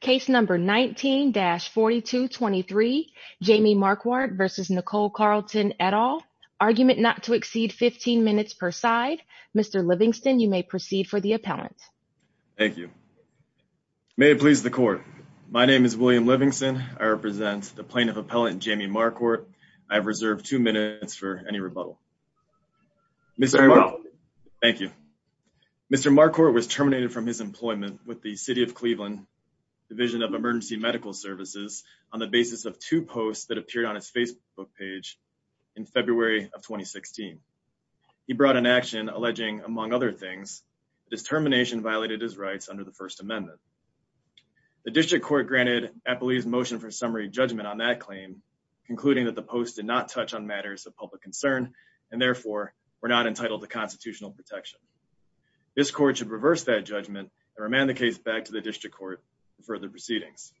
Case number 19-4223. Jamie Marquardt v. Nicole Carlton et al. Argument not to exceed 15 minutes per side. Mr. Livingston, you may proceed for the appellant. Thank you. May it please the court. My name is William Livingston. I represent the plaintiff appellant Jamie Marquardt. I've reserved two minutes for any rebuttal. Mr. Marquardt. Thank you. Mr. Marquardt was terminated from his employment with the City of Cleveland Division of Emergency Medical Services on the basis of two posts that appeared on his Facebook page in February of 2016. He brought an action alleging, among other things, his termination violated his rights under the First Amendment. The district court granted appellee's motion for summary judgment on that claim, concluding that the post did not touch on matters of public concern and therefore were not entitled to constitutional protection. This court should reverse that judgment and remand the case back to the district court for further proceedings.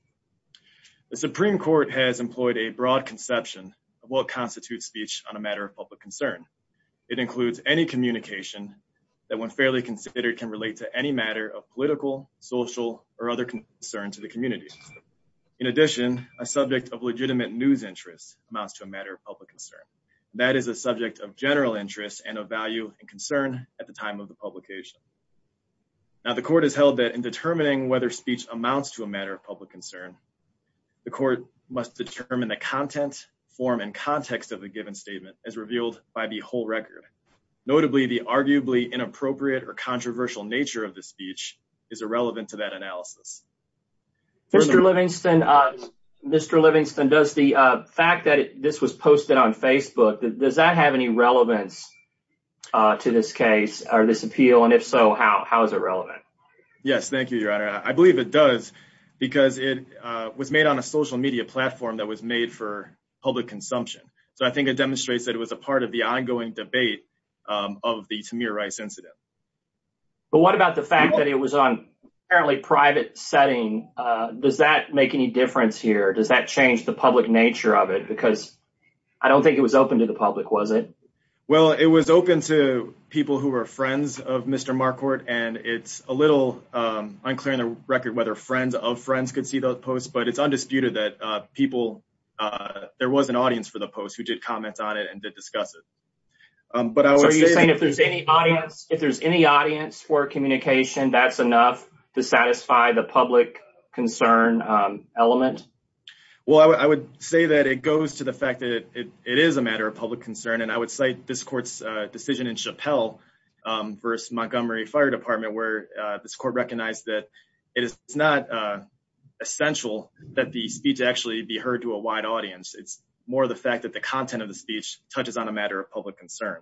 The Supreme Court has employed a broad conception of what constitutes speech on a matter of public concern. It includes any communication that, when fairly considered, can relate to any matter of political, social, or other concern to the community. In addition, a subject of legitimate news interest amounts to a matter of public concern. That is a subject of general interest and of value and concern at the time of the publication. Now, the court has held that in determining whether speech amounts to a matter of public concern, the court must determine the content, form, and context of the given statement as revealed by the whole record. Notably, the arguably inappropriate or controversial nature of the speech is irrelevant to that analysis. Mr. Livingston, does the fact that this was posted on Facebook have any relevance to this case or this appeal? If so, how is it relevant? Yes, thank you, Your Honor. I believe it does because it was made on a social media platform that was made for public consumption. I think it demonstrates that it was a part of the ongoing debate of the Tamir Rice incident. What about the fact that it was on a private setting? Does that make any difference here? Does that change the public nature of it? Because I don't think it was open to the public, was it? Well, it was open to people who were friends of Mr. Marquardt, and it's a little unclear on the record whether friends of friends could see the post, but it's undisputed that there was an audience for the post who did comment on it and did discuss it. Are you saying if there's any audience for communication, that's enough to satisfy the public concern element? Well, I would say that it goes to the fact that it is a matter of public concern, and I would cite this court's decision in Chappelle v. Montgomery Fire Department, where this court recognized that it is not essential that the speech actually be heard to a wide audience. It's more the fact that the content of the speech touches on a matter of public concern.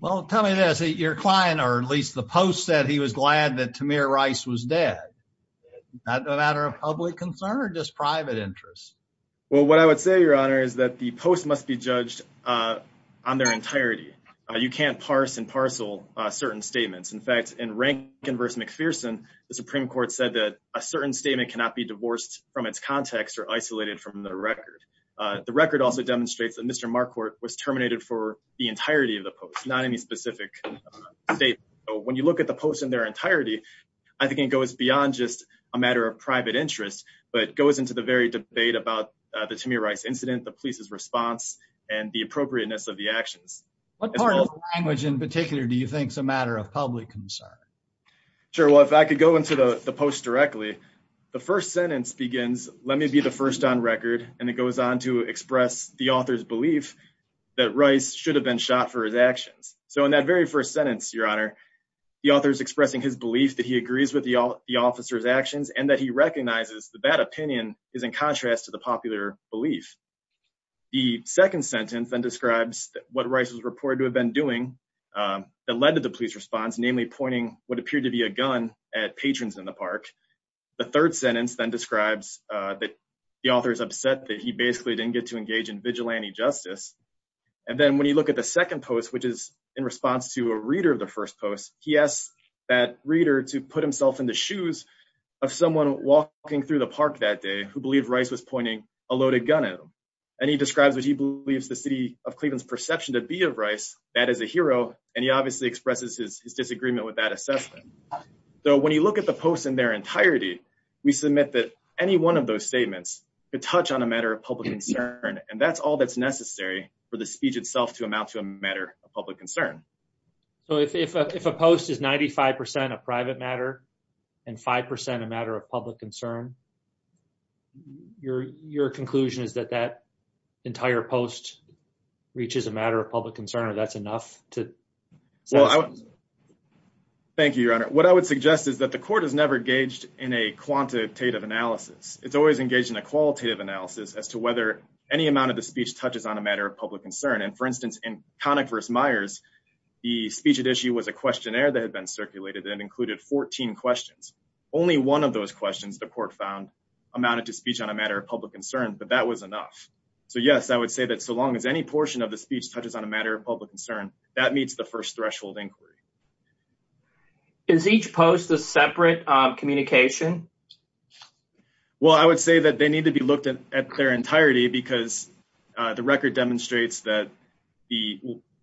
Well, tell me this. Your client, or at least the post, said he was glad that Tamir Rice was dead. Is that a matter of public concern or just private interest? Well, what I would say, Your Honor, is that the post must be judged on their entirety. You can't parse and parcel certain statements. In fact, in Rankin v. McPherson, the Supreme Court said that a certain statement cannot be divorced from its context or isolated from the record. The record also demonstrates that Mr. Marquardt was terminated for the entirety of the post, not any specific statement. When you look at the post in their entirety, I think it goes beyond just a matter of private interest, but it goes into the very debate about the Tamir Rice incident, the police's response, and the appropriateness of the actions. What part of the language in particular do you think is a matter of public concern? Sure. Well, if I could go into the post directly, the first sentence begins, let me be the first on record, and it goes on to express the author's belief that Rice should have been shot for his actions. So in that very first sentence, Your Honor, the author is expressing his belief that he agrees with the officer's actions and that he recognizes that that opinion is in contrast to the popular belief. The second sentence then describes what Rice was reported to have been doing that led to the police response, namely pointing what appeared to be a gun at patrons in the park. The third sentence then describes that the author is upset that he basically didn't get to engage in vigilante justice. And then when you look at the second post, which is in response to a reader of the first post, he asks that reader to put himself in the shoes of someone walking through the park that day who believed Rice was pointing a loaded gun at him. And he describes what he believes the city of Cleveland's perception to be of Rice, that as a hero, and he obviously expresses his disagreement with that assessment. So when you look at the post in their entirety, we submit that any one of those statements could touch on a matter of public concern, and that's all that's necessary for the speech itself to amount to a matter of public concern. So if a post is 95% a private matter and 5% a matter of public concern, your conclusion is that that entire post reaches a matter of public concern or that's enough to Well, thank you, Your Honor. What I would suggest is that the court has never engaged in a quantitative analysis. It's always engaged in a qualitative analysis as to whether any amount of the speech touches on a matter of public concern. And for instance, in Connick v. Myers, the speech at issue was a questionnaire that had been circulated and included 14 questions. Only one of those questions the court found amounted to speech on a matter of public concern, but that was enough. So yes, I would say that so long as any portion of the speech touches on a matter of public concern, that meets the first threshold inquiry. Is each post a separate communication? Well, I would say that they need to be looked at their entirety because the record demonstrates that the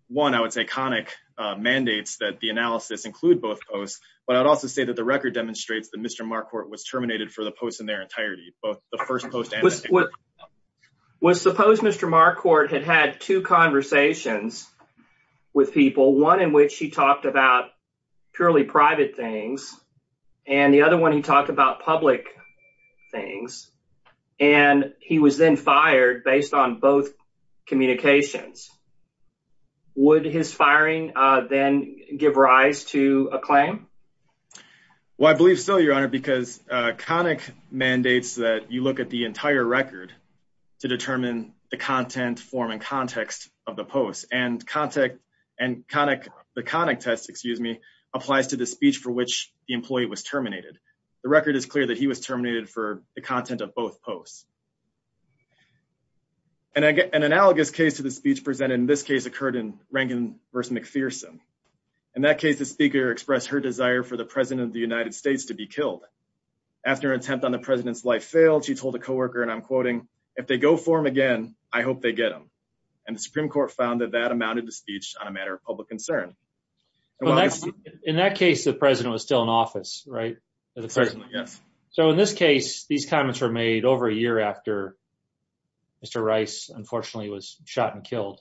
one, I would say, Connick mandates that the analysis include both posts, but I'd also say that the record demonstrates that Mr. Marquardt was terminated for the post in their entirety, both the first post and the second. Well, suppose Mr. Marquardt had had two conversations with people, one in which he talked about purely private things, and the other one he talked about public things, and he was then fired based on both communications. Would his firing then give rise to a claim? Well, I believe so, Your Honor, because Connick mandates that you look at the entire record to determine the content, form, and context of the posts, and the Connick test applies to the speech for which the employee was terminated. The record is clear that he was terminated for the content of both posts. An analogous case to the speech presented in this case occurred in Rankin versus McPherson. In that case, the Speaker expressed her desire for the President of the United States to be killed. After an attempt on the President's life failed, she told a coworker, and I'm quoting, if they go for him again, I hope they get him. And the Supreme Court found that that amounted to speech on a matter of public concern. In that case, the President was still in office, right? Yes. So in this case, these comments were made over a year after Mr. Rice, unfortunately, was shot and killed.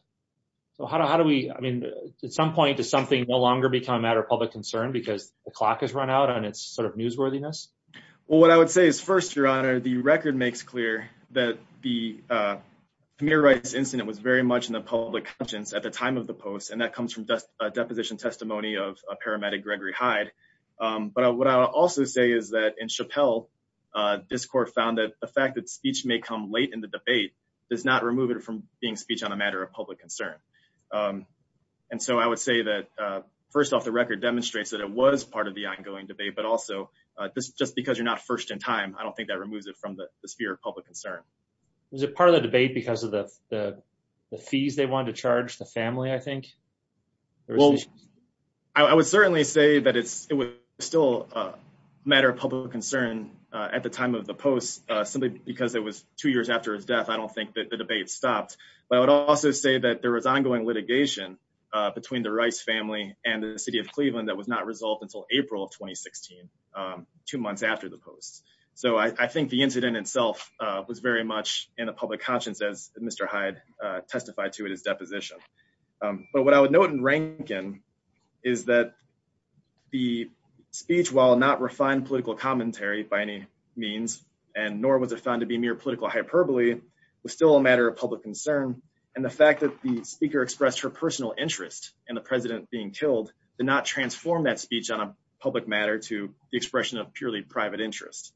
So how do we, I mean, at some point, does something no longer become a matter of public concern because the clock has run out and it's sort of newsworthiness? Well, what I would say is first, Your Honor, the record makes clear that the Kamir Rice incident was very much in the public conscience at the time of the post, and that comes from deposition testimony of a paramedic, Gregory Hyde. But what I'll also say is that in Chappelle, this court found that the fact that speech may come late in the debate does not remove it from being speech on a matter of public concern. And so I would say that, first off, the record demonstrates that it was part of the ongoing debate, but also just because you're not first in time, I don't think that removes it from the sphere of public concern. Was it part of the debate because of the fees they wanted to charge the family, I think? Well, I would certainly say that it's still a matter of public concern at the time of the post simply because it was two years after his death. I don't think that the debate stopped, but I would also say that there was ongoing litigation between the Rice family and the city of Cleveland that was not resolved until April of 2016, two months after the post. So I think the incident itself was very much in the public conscience as Mr. Hyde testified to it as deposition. But what I would note in Rankin is that the speech, while not refined political commentary by any means, and nor was it found to be mere political hyperbole, was still a matter of public concern. And the fact that the speaker expressed her personal interest in the president being killed did not transform that speech on a public matter to the expression of purely private interest.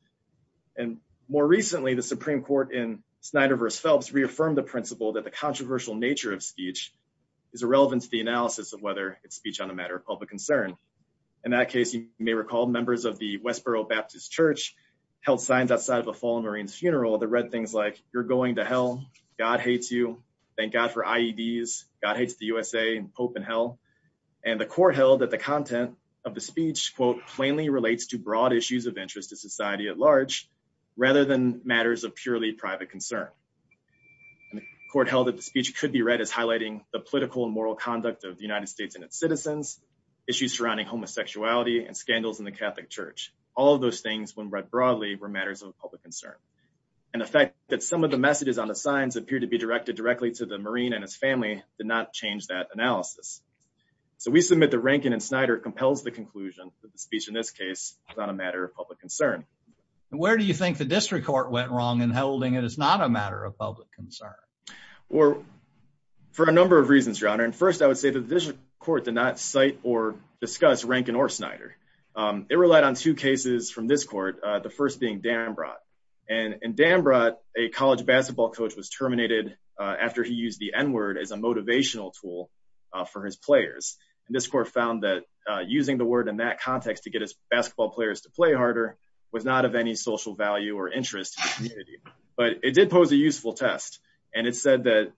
And more recently, the Supreme Court in Snyder v. Phelps reaffirmed the principle that the controversial nature of speech is irrelevant to the analysis of whether it's speech on a matter of public concern. In that case, you may recall members of the Westboro Baptist Church held signs outside of a fallen Marine's funeral that read things like, you're going to hell, God hates you, thank God for IEDs, God hates the USA, and hope in hell. And the court held that the content of the speech, quote, plainly relates to broad issues of interest to society at large, rather than matters of purely private concern. And the court held that the speech could be read as highlighting the political and moral conduct of the United States and its citizens, issues surrounding homosexuality and scandals in the Catholic Church. All of those things, when read broadly, were matters of public concern. And the fact that some of the messages on the signs appear to be directed directly to the Marine and his family did not change that analysis. So we submit that Rankin and Snyder compels the conclusion that the speech in this case is on a matter of public concern. And where do you think the district court went wrong in holding it is not a matter of public concern? For a number of reasons, your honor. And first, I would say that the district court did not cite or discuss Rankin or Snyder. It relied on two cases from this court, the first being Danbrot. And in Danbrot, a college basketball coach was terminated after he used the N-word as a motivational tool for his players. And this court found that using the word in that context to get his basketball players to play harder was not of any social value or interest to the community. But it did pose a useful test. And it said that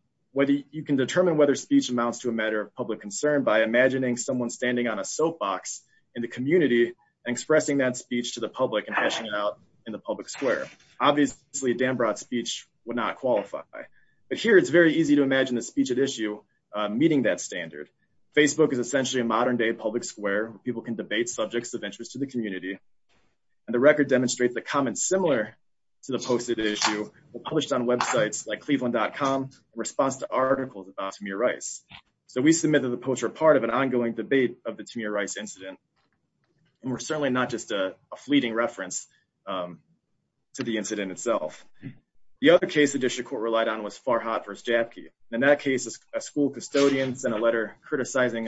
you can determine whether speech amounts to a matter of public concern by imagining someone standing on a soapbox in the community and expressing that speech to the public and passing it out in the public square. Obviously, Danbrot's speech would not qualify. But here, it's very easy to imagine the speech at issue meeting that standard. Facebook is essentially a modern-day public square where people can debate subjects of interest to the community. And the record demonstrates the comments similar to the posted issue were published on websites like Cleveland.com response to articles about Tamir Rice. So we submit that the posts are part of an ongoing debate of the Tamir Rice incident. And we're certainly not just a fleeting reference to the incident itself. The other case the district court relied on was Farhad v. Jaffke. In that case, a school custodian sent a letter criticizing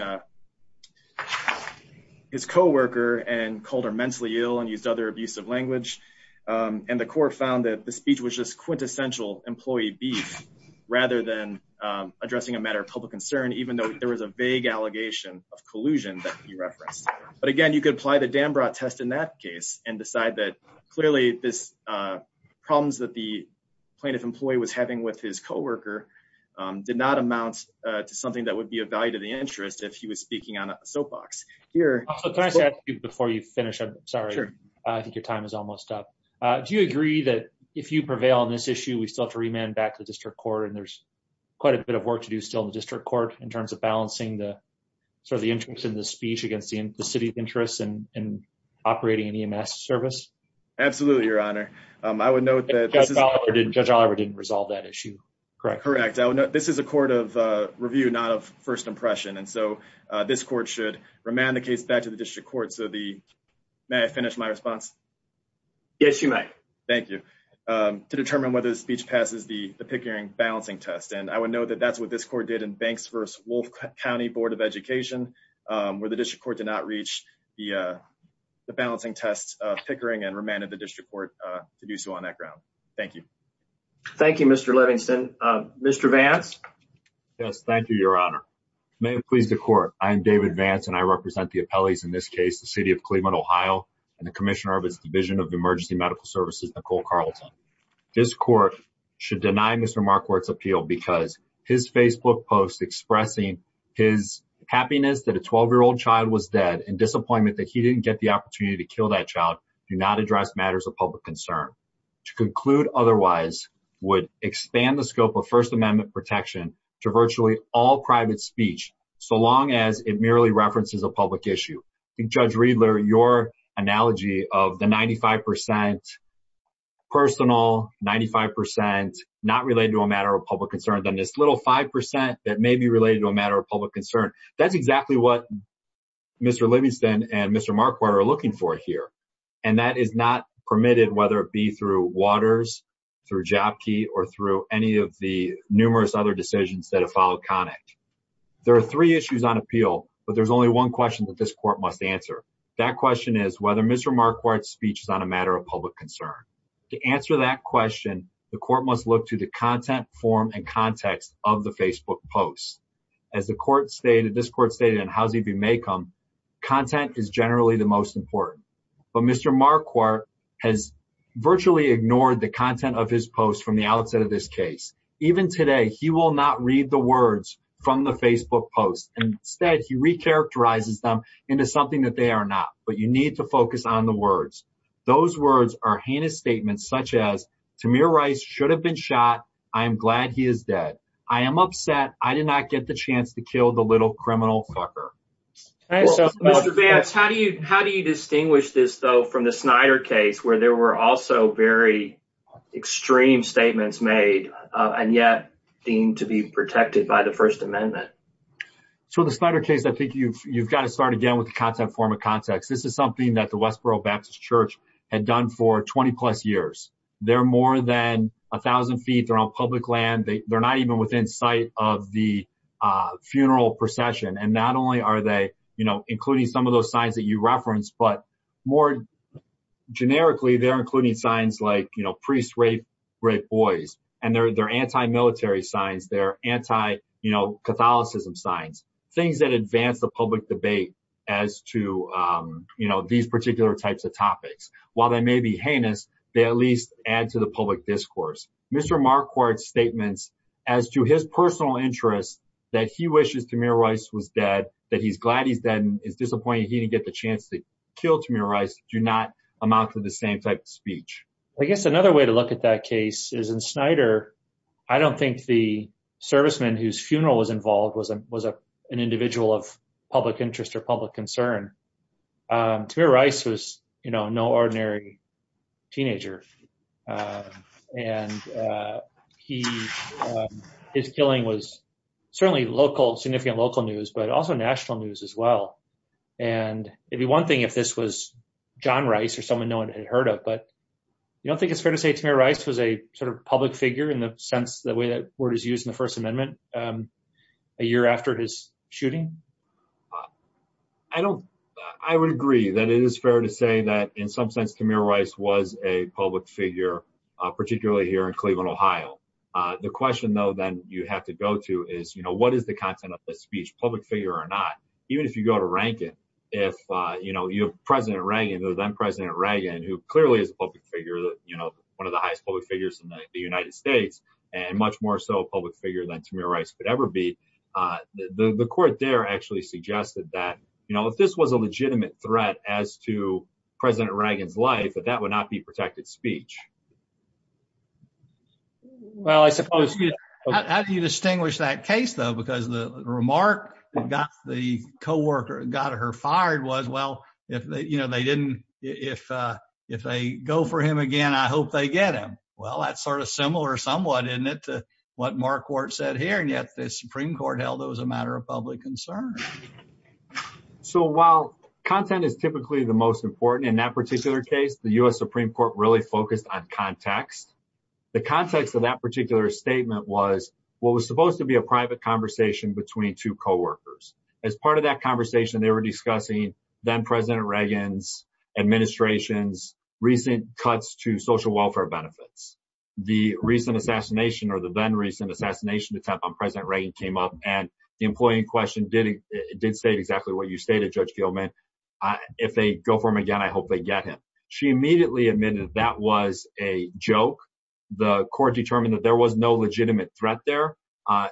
his coworker and called her mentally ill and used other abusive language. And the court found that the speech was just quintessential employee beef rather than addressing a matter of public concern, even though there was a vague allegation of collusion that he referenced. But again, you could apply the Danbrot test in that case and decide that, clearly, the problems that the plaintiff employee was having with his coworker did not amount to something that would be of value to the interest if he was speaking on a soapbox. Can I ask you before you finish? I'm sorry. I think your time is almost up. Do you agree that if you prevail on this issue, we still have to remand back to the district court? And there's quite a bit of work to do still in the district court in terms of balancing the interest in the speech against the city's interests in operating an EMS service? Absolutely, your honor. I would note that- Judge Oliver didn't resolve that issue, correct? Correct. This is a court of review, not of first impression. And so this court should remand the case back to the district court. May I finish my response? Yes, you may. Thank you. To determine whether the speech passes the Pickering balancing test. And I would note that that's what this court did in Banks v. Wolf County Board of Education, where the district court did not reach the balancing test Pickering and remanded the district court to do so on that ground. Thank you. Thank you, Mr. Livingston. Mr. Vance? Yes, thank you, your honor. May it please the court. I am David Vance and I represent the appellees in this case, the city of Cleveland, Ohio, and the commissioner of his division of emergency medical services, Nicole Carlton. This court should deny Mr. Marquardt's appeal because his Facebook posts expressing his happiness that a 12-year-old child was dead and disappointment that he didn't get the opportunity to kill that child do not address matters of public concern. To conclude otherwise would expand the scope of first amendment protection to virtually all private speech, so long as it is a more analogy of the 95% personal, 95% not related to a matter of public concern, than this little 5% that may be related to a matter of public concern. That's exactly what Mr. Livingston and Mr. Marquardt are looking for here. And that is not permitted, whether it be through Waters, through Jopki, or through any of the numerous other decisions that have followed Connick. There are three issues on appeal, but there's only one question that this court must answer. That question is whether Mr. Marquardt's speech is on a matter of public concern. To answer that question, the court must look to the content, form, and context of the Facebook posts. As the court stated, this court stated in Housie v. Maycomb, content is generally the most important. But Mr. Marquardt has virtually ignored the content of his posts from the outset of this case. Even today, he will not read the words from the Facebook posts. Instead, he recharacterizes them into something that they are not. But you need to focus on the words. Those words are heinous statements such as, Tamir Rice should have been shot. I am glad he is dead. I am upset I did not get the chance to kill the little criminal fucker. Mr. Vance, how do you distinguish this though from the Snyder case, where there were also very extreme statements made, and yet deemed to be protected by the First Amendment? So the Snyder case, I think you have got to start again with the content, form, and context. This is something that the Westboro Baptist Church had done for 20-plus years. They are more than 1,000 feet. They are on public land. They are not even within sight of the funeral procession. And not only are they including some of those signs that you referenced, but more generically, they are including signs like priests rape boys. And they are anti-military signs. They are anti-Catholicism signs. Things that advance the public debate as to these particular types of topics. While they may be heinous, they at least add to the public discourse. Mr. Marquardt's statements as to his personal interest that he wishes Tamir Rice was dead, that he is glad he is dead and is disappointed he did not get the chance to kill Tamir Rice, do not amount to the same type of way. Another way to look at that case is in Snyder, I do not think the serviceman whose funeral was involved was an individual of public interest or public concern. Tamir Rice was no ordinary teenager. And his killing was certainly significant local news, but also national news as John Rice or someone no one had heard of. But you do not think it is fair to say Tamir Rice was a public figure in the sense the way that word is used in the First Amendment a year after his shooting? I would agree that it is fair to say that in some sense Tamir Rice was a public figure, particularly here in Cleveland, Ohio. The question, though, that you have to go to is, what is the content of the speech, public figure or not? Even if you go to Rankin, if you have President Reagan or then President Reagan, who clearly is a public figure, one of the highest public figures in the United States, and much more so a public figure than Tamir Rice could ever be, the court there actually suggested that if this was a legitimate threat as to President Reagan's life, that would not be protected speech. How do you distinguish that from the fact that if they go for him again, I hope they get him? Well, that is sort of similar somewhat, isn't it, to what Marquardt said here, and yet the Supreme Court held it was a matter of public concern. So while content is typically the most important in that particular case, the U.S. Supreme Court really focused on context. The context of that particular statement was what was supposed to be a private conversation between two coworkers. As part of that conversation, they were discussing then-President Reagan's administration's recent cuts to social welfare benefits. The recent assassination or the then-recent assassination attempt on President Reagan came up, and the employee in question did state exactly what you stated, Judge Gilman, if they go for him again, I hope they get him. She immediately admitted that was a joke. The court determined that there was no legitimate threat there.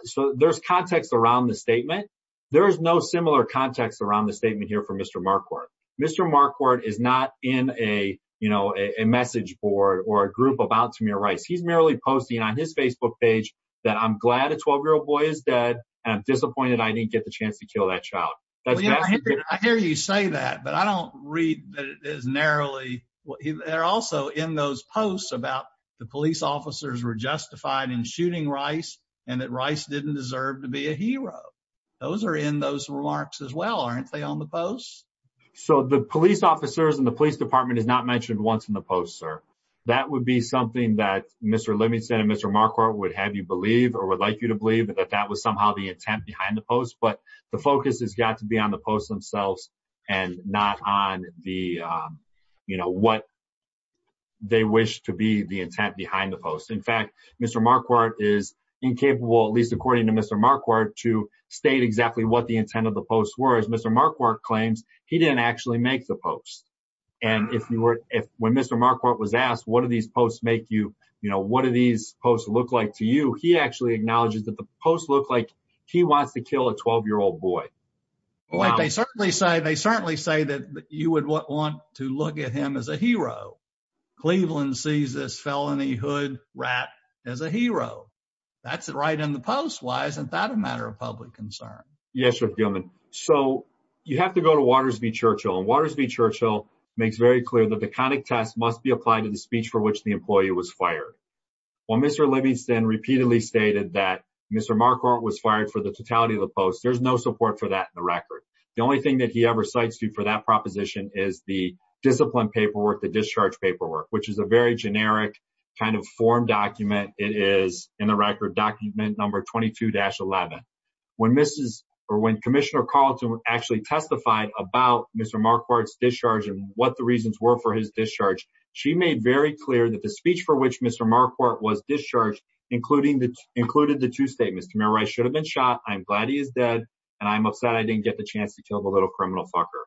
So there's context around the statement here from Mr. Marquardt. Mr. Marquardt is not in a, you know, a message board or a group about Tamir Rice. He's merely posting on his Facebook page that I'm glad a 12-year-old boy is dead and I'm disappointed I didn't get the chance to kill that child. I hear you say that, but I don't read that as narrowly. They're also in those posts about the police officers were justified in shooting Rice and that Rice didn't deserve to be a hero. Those are in those remarks as well, aren't they, on the posts? So the police officers and the police department is not mentioned once in the post, sir. That would be something that Mr. Livingston and Mr. Marquardt would have you believe or would like you to believe that that was somehow the intent behind the post, but the focus has got to be on the posts themselves and not on the, you know, what they wish to be the intent behind the post. In fact, Mr. Marquardt is incapable, at least according to Mr. Marquardt, to state exactly what the intent of the post were, as Mr. Marquardt claims he didn't actually make the post. And if you were, if when Mr. Marquardt was asked, what do these posts make you, you know, what do these posts look like to you, he actually acknowledges that the post looked like he wants to kill a 12-year-old boy. Well, they certainly say, they certainly say that you would want to look at him as a hero. Cleveland sees this felony hood rat as a hero. That's right in the post. Why isn't that a matter of public concern? Yes, Mr. Gilman. So you have to go to Waters v. Churchill, and Waters v. Churchill makes very clear that the conic test must be applied to the speech for which the employee was fired. While Mr. Livingston repeatedly stated that Mr. Marquardt was fired for the totality of the post, there's no support for that in the record. The only thing that he ever cites you for that proposition is the discipline paperwork, the record document number 22-11. When Commissioner Carlton actually testified about Mr. Marquardt's discharge and what the reasons were for his discharge, she made very clear that the speech for which Mr. Marquardt was discharged included the two statements, Camille Rice should have been shot, I'm glad he is dead, and I'm upset I didn't get the chance to kill the little criminal fucker.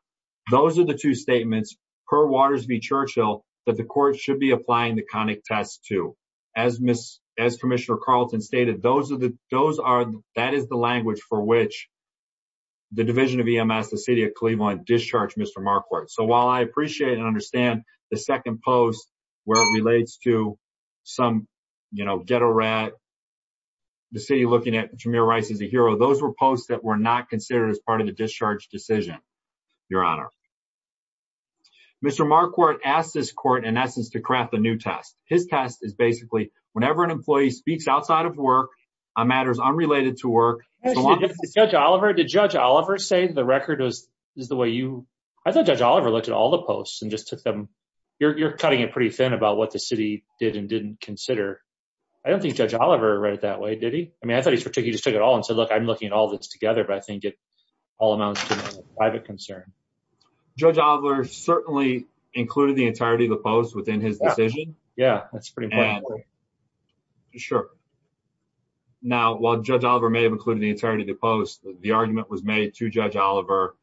Those are the two statements per Waters v. Churchill that the court should be applying the conic test to. As Commissioner Carlton stated, that is the language for which the division of EMS, the city of Cleveland, discharged Mr. Marquardt. So while I appreciate and understand the second post where it relates to some ghetto rat, the city looking at Camille Rice as a hero, those were posts that were not considered as part of the discharge decision, your honor. Mr. Marquardt asked this court in essence to craft a new test. His test is basically whenever an employee speaks outside of work on matters unrelated to work. Did Judge Oliver say the record is the way you, I thought Judge Oliver looked at all the posts and just took them, you're cutting it pretty thin about what the city did and didn't consider. I don't think Judge Oliver read it that way, did he? I mean, I thought he just took it all and said, I'm looking at all this together, but I think it all amounts to a private concern. Judge Oliver certainly included the entirety of the post within his decision. Yeah, that's pretty important. Sure. Now, while Judge Oliver may have included the entirety of the post, the argument was made to Judge Oliver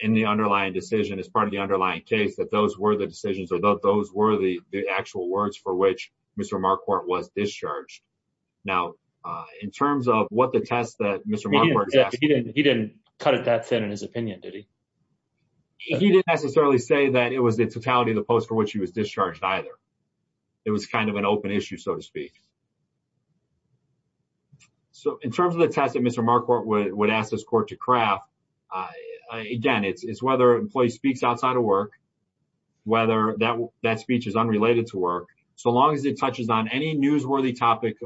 in the underlying decision as part of the underlying case that those were the decisions or those were the actual words for which Mr. Marquardt was discharged. Now, in terms of what the test that Mr. Marquardt... He didn't cut it that thin in his opinion, did he? He didn't necessarily say that it was the totality of the post for which he was discharged either. It was kind of an open issue, so to speak. So, in terms of the test that Mr. Marquardt would ask this court to craft, again, it's whether an employee speaks outside of work, whether that speech is unrelated to work, so long as it touches on any newsworthy topic,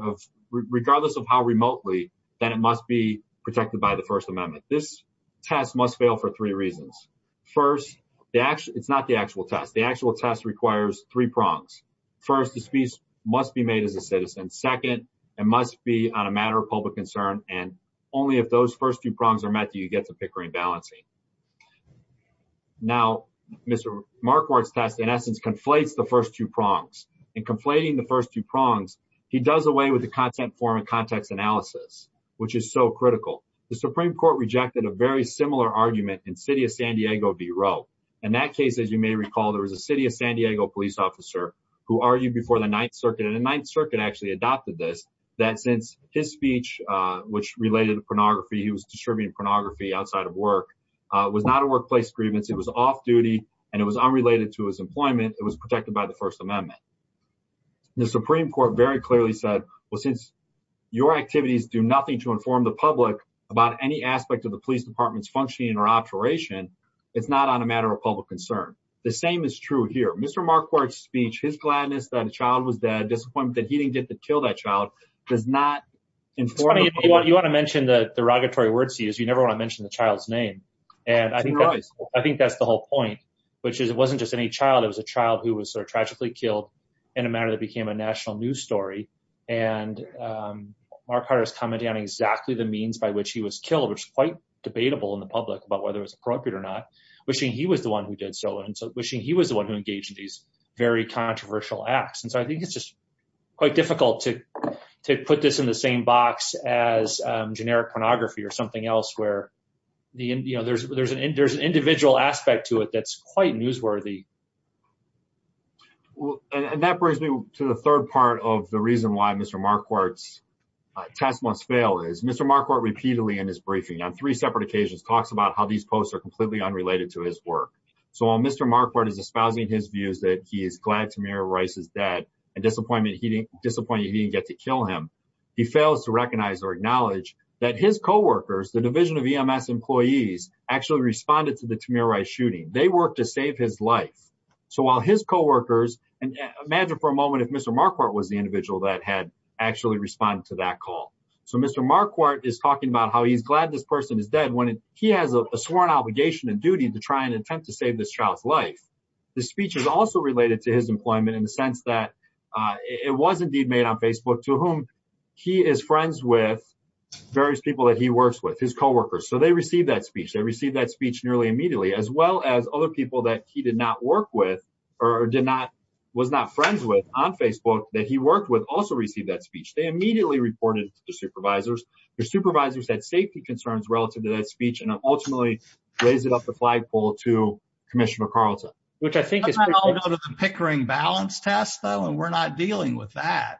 regardless of how remotely, then it must be protected by the First Amendment. This test must fail for three reasons. First, it's not the actual test. The actual test requires three prongs. First, the speech must be made as a citizen. Second, it must be on a matter of public concern, and only if those first two prongs are met do you get to pickering and balancing. Now, Mr. Marquardt's test in essence conflates the first two prongs. In conflating the first two prongs, he does away with the content form and context analysis, which is so critical. The Supreme Court rejected a very similar argument in City of San Diego v. Roe. In that case, as you may recall, there was a City of San Diego police officer who argued before the Ninth Circuit, and the Ninth Circuit actually adopted this, that since his speech, which related to pornography, he was distributing pornography outside of work, was not a workplace grievance. It was off-duty, and it was unrelated to his employment. It was protected by the First Amendment. The Supreme Court very clearly said, well, since your activities do nothing to inform the public about any aspect of the police department's functioning or operation, it's not on a matter of public concern. The same is true here. Mr. Marquardt's speech, his gladness that a child was dead, disappointment that he didn't get to kill that child, does not inform the public. It's funny, you want to mention the derogatory words, you never want to mention the child's name, and I think that's the whole point, which is it wasn't just any child, it was a child who was sort of tragically killed in a manner that became a national news story. And Marquardt is commenting on exactly the means by which he was killed, which is quite debatable in the public about whether it was appropriate or not, wishing he was the one who did so, and so wishing he was the one who engaged in these very controversial acts. And so I think it's just quite difficult to put this in the same box as generic pornography or something else where, you know, there's an individual aspect to it that's quite newsworthy. And that brings me to the third part of the reason why Mr. Marquardt's test must fail, is Mr. Marquardt repeatedly in his briefing, on three separate occasions, talks about how these posts are completely unrelated to his work. So while Mr. Marquardt is espousing his views that he is glad Tamir Rice is dead and disappointed he didn't get to kill him, he fails to recognize or acknowledge that his co-workers, the division of EMS employees, actually responded to the Tamir Rice shooting. They worked to save his life. So while his co-workers, and imagine for a moment if Mr. Marquardt was the individual that had actually responded to that call. So Mr. Marquardt is talking about how he's glad this person is dead when he has a sworn obligation and duty to try and attempt to save this child's life. The speech is also related to his employment in the sense that it was indeed made on Facebook, to whom he is friends with various people that he works with, his co-workers. So they received that speech nearly immediately, as well as other people that he did not work with, or did not, was not friends with on Facebook, that he worked with also received that speech. They immediately reported it to their supervisors. Their supervisors had safety concerns relative to that speech and ultimately raised it up the flagpole to Commissioner McArdleton. Which I think is... I don't know about the Pickering balance test though, and we're not dealing with that.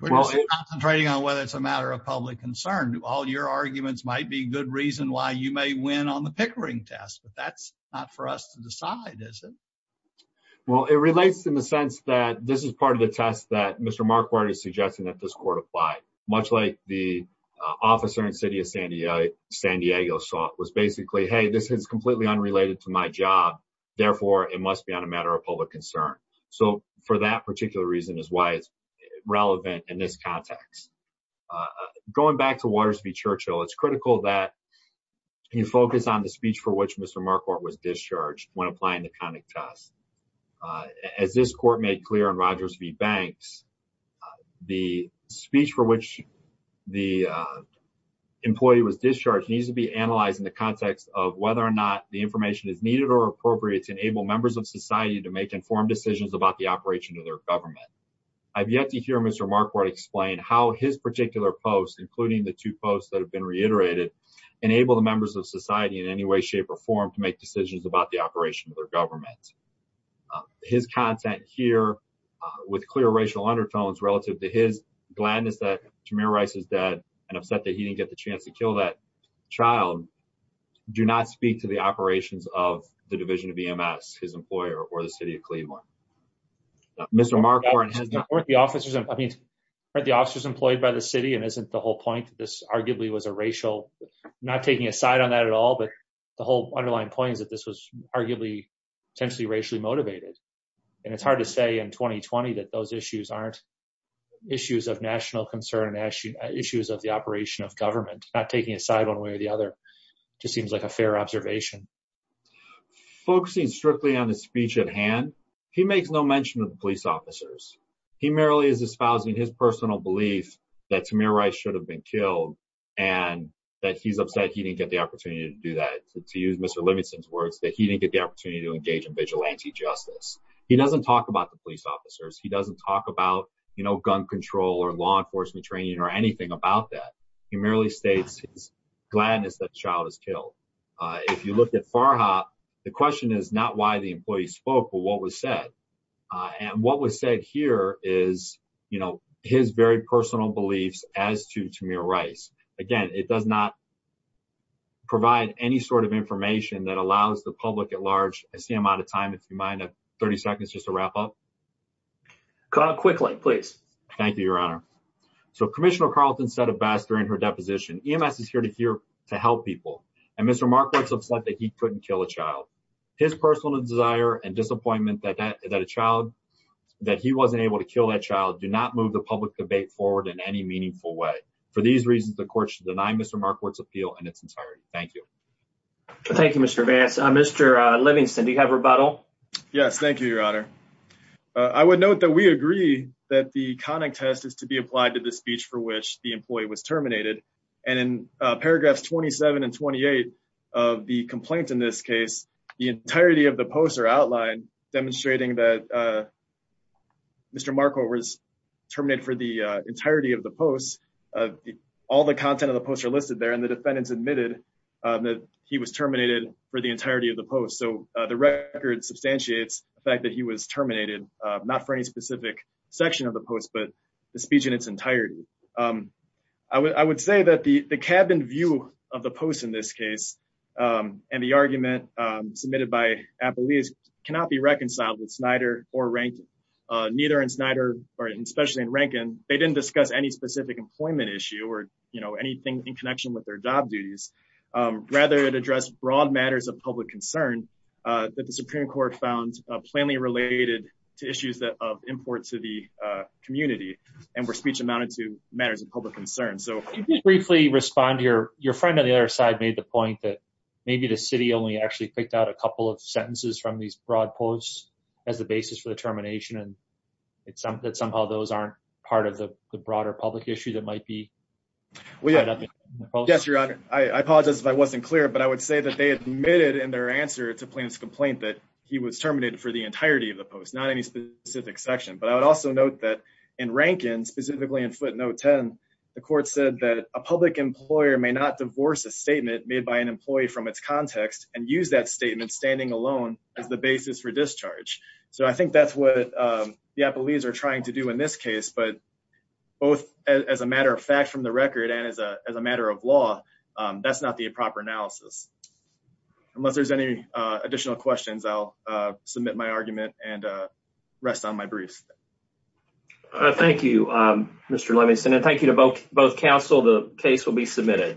We're just concentrating on whether it's a matter of public concern. All your arguments might be good reason why you may win on the Pickering test, but that's not for us to decide, is it? Well, it relates in the sense that this is part of the test that Mr. Marquardt is suggesting that this court applied. Much like the officer in the city of San Diego was basically, hey, this is completely unrelated to my job. Therefore, it must be on a matter of public concern. So for that particular reason is why it's relevant in this context. Going back to Waters v. Churchill, it's critical that you focus on the speech for which Mr. Marquardt was discharged when applying the conduct test. As this court made clear in Rogers v. Banks, the speech for which the employee was discharged needs to be analyzed in the context of whether or not the information is needed or appropriate to enable members of society to make informed decisions about the operation of their government. I've yet to hear Mr. Marquardt explain how his particular post, including the two posts that have been reiterated, enable the members of society in any way, shape, or form to make decisions about the operation of their government. His content here with clear racial undertones relative to his gladness that Tamir Rice is dead and upset that he didn't get the chance to kill that child do not speak to the operations of the division of EMS, his employer, or the city of Cleveland. Mr. Marquardt has not- I mean, aren't the officers employed by the city? And isn't the whole point that this arguably was a racial- not taking a side on that at all, but the whole underlying point is that this was arguably potentially racially motivated. And it's hard to say in 2020 that those issues aren't issues of national concern, issues of the operation of government. Not taking a side one way or the other just seems like a fair observation. Focusing strictly on the speech at hand, he makes no mention of the police officers. He merely is espousing his personal belief that Tamir Rice should have been killed and that he's upset he didn't get the opportunity to do that. To use Mr. Livingston's words, that he didn't get the opportunity to engage in vigilante justice. He doesn't talk about the police officers. He doesn't talk about, you know, gun control or law enforcement training or anything about that. He merely states his is killed. If you look at Farha, the question is not why the employee spoke, but what was said. And what was said here is, you know, his very personal beliefs as to Tamir Rice. Again, it does not provide any sort of information that allows the public at large- I see I'm out of time, if you mind, 30 seconds, just to wrap up. Kyle, quickly, please. Thank you, Your Honor. So, Commissioner Carlton said it best during her deposition, EMS is here to help people. And Mr. Markworth's upset that he couldn't kill a child. His personal desire and disappointment that a child- that he wasn't able to kill that child do not move the public debate forward in any meaningful way. For these reasons, the court should deny Mr. Markworth's appeal in its entirety. Thank you. Thank you, Mr. Vance. Mr. Livingston, do you have rebuttal? Yes, thank you, Your Honor. I would note that we agree that the conic test is to be applied to the speech for which the employee was terminated. And in paragraphs 27 and 28 of the complaint in this case, the entirety of the posts are outlined demonstrating that Mr. Markworth was terminated for the entirety of the posts. All the content of the posts are listed there and the defendants admitted that he was terminated for the entirety of the post. So, the record substantiates the fact that he was terminated, not for any specific section of the post, but the speech in its entirety. I would say that the cabin view of the post in this case and the argument submitted by Applebee's cannot be reconciled with Snyder or Rankin. Neither in Snyder, or especially in Rankin, they didn't discuss any specific employment issue or, you know, anything in connection with their job duties. Rather, it addressed broad matters of public concern that the Supreme Court found plainly related to issues of import to the community and where speech amounted to matters of public concern. So, Can you just briefly respond here? Your friend on the other side made the point that maybe the city only actually picked out a couple of sentences from these broad posts as the basis for the termination and that somehow those aren't part of the broader public issue that might be tied up in the post? Yes, Your Honor. I apologize if I wasn't clear, but I would say that they admitted in their answer to Plaintiff's complaint that he was terminated for the entirety of the post, not any specific section. But I would also note that in Rankin, specifically in footnote 10, the court said that a public employer may not divorce a statement made by an employee from its context and use that statement standing alone as the basis for discharge. So, I think that's what the Applebee's are trying to do in this case, but both as a matter of fact from the record and as a matter of law, that's not the proper analysis. Unless there's any additional questions, I'll submit my argument and rest on my brief. Thank you, Mr. Levinson, and thank you to both counsel. The case will be submitted.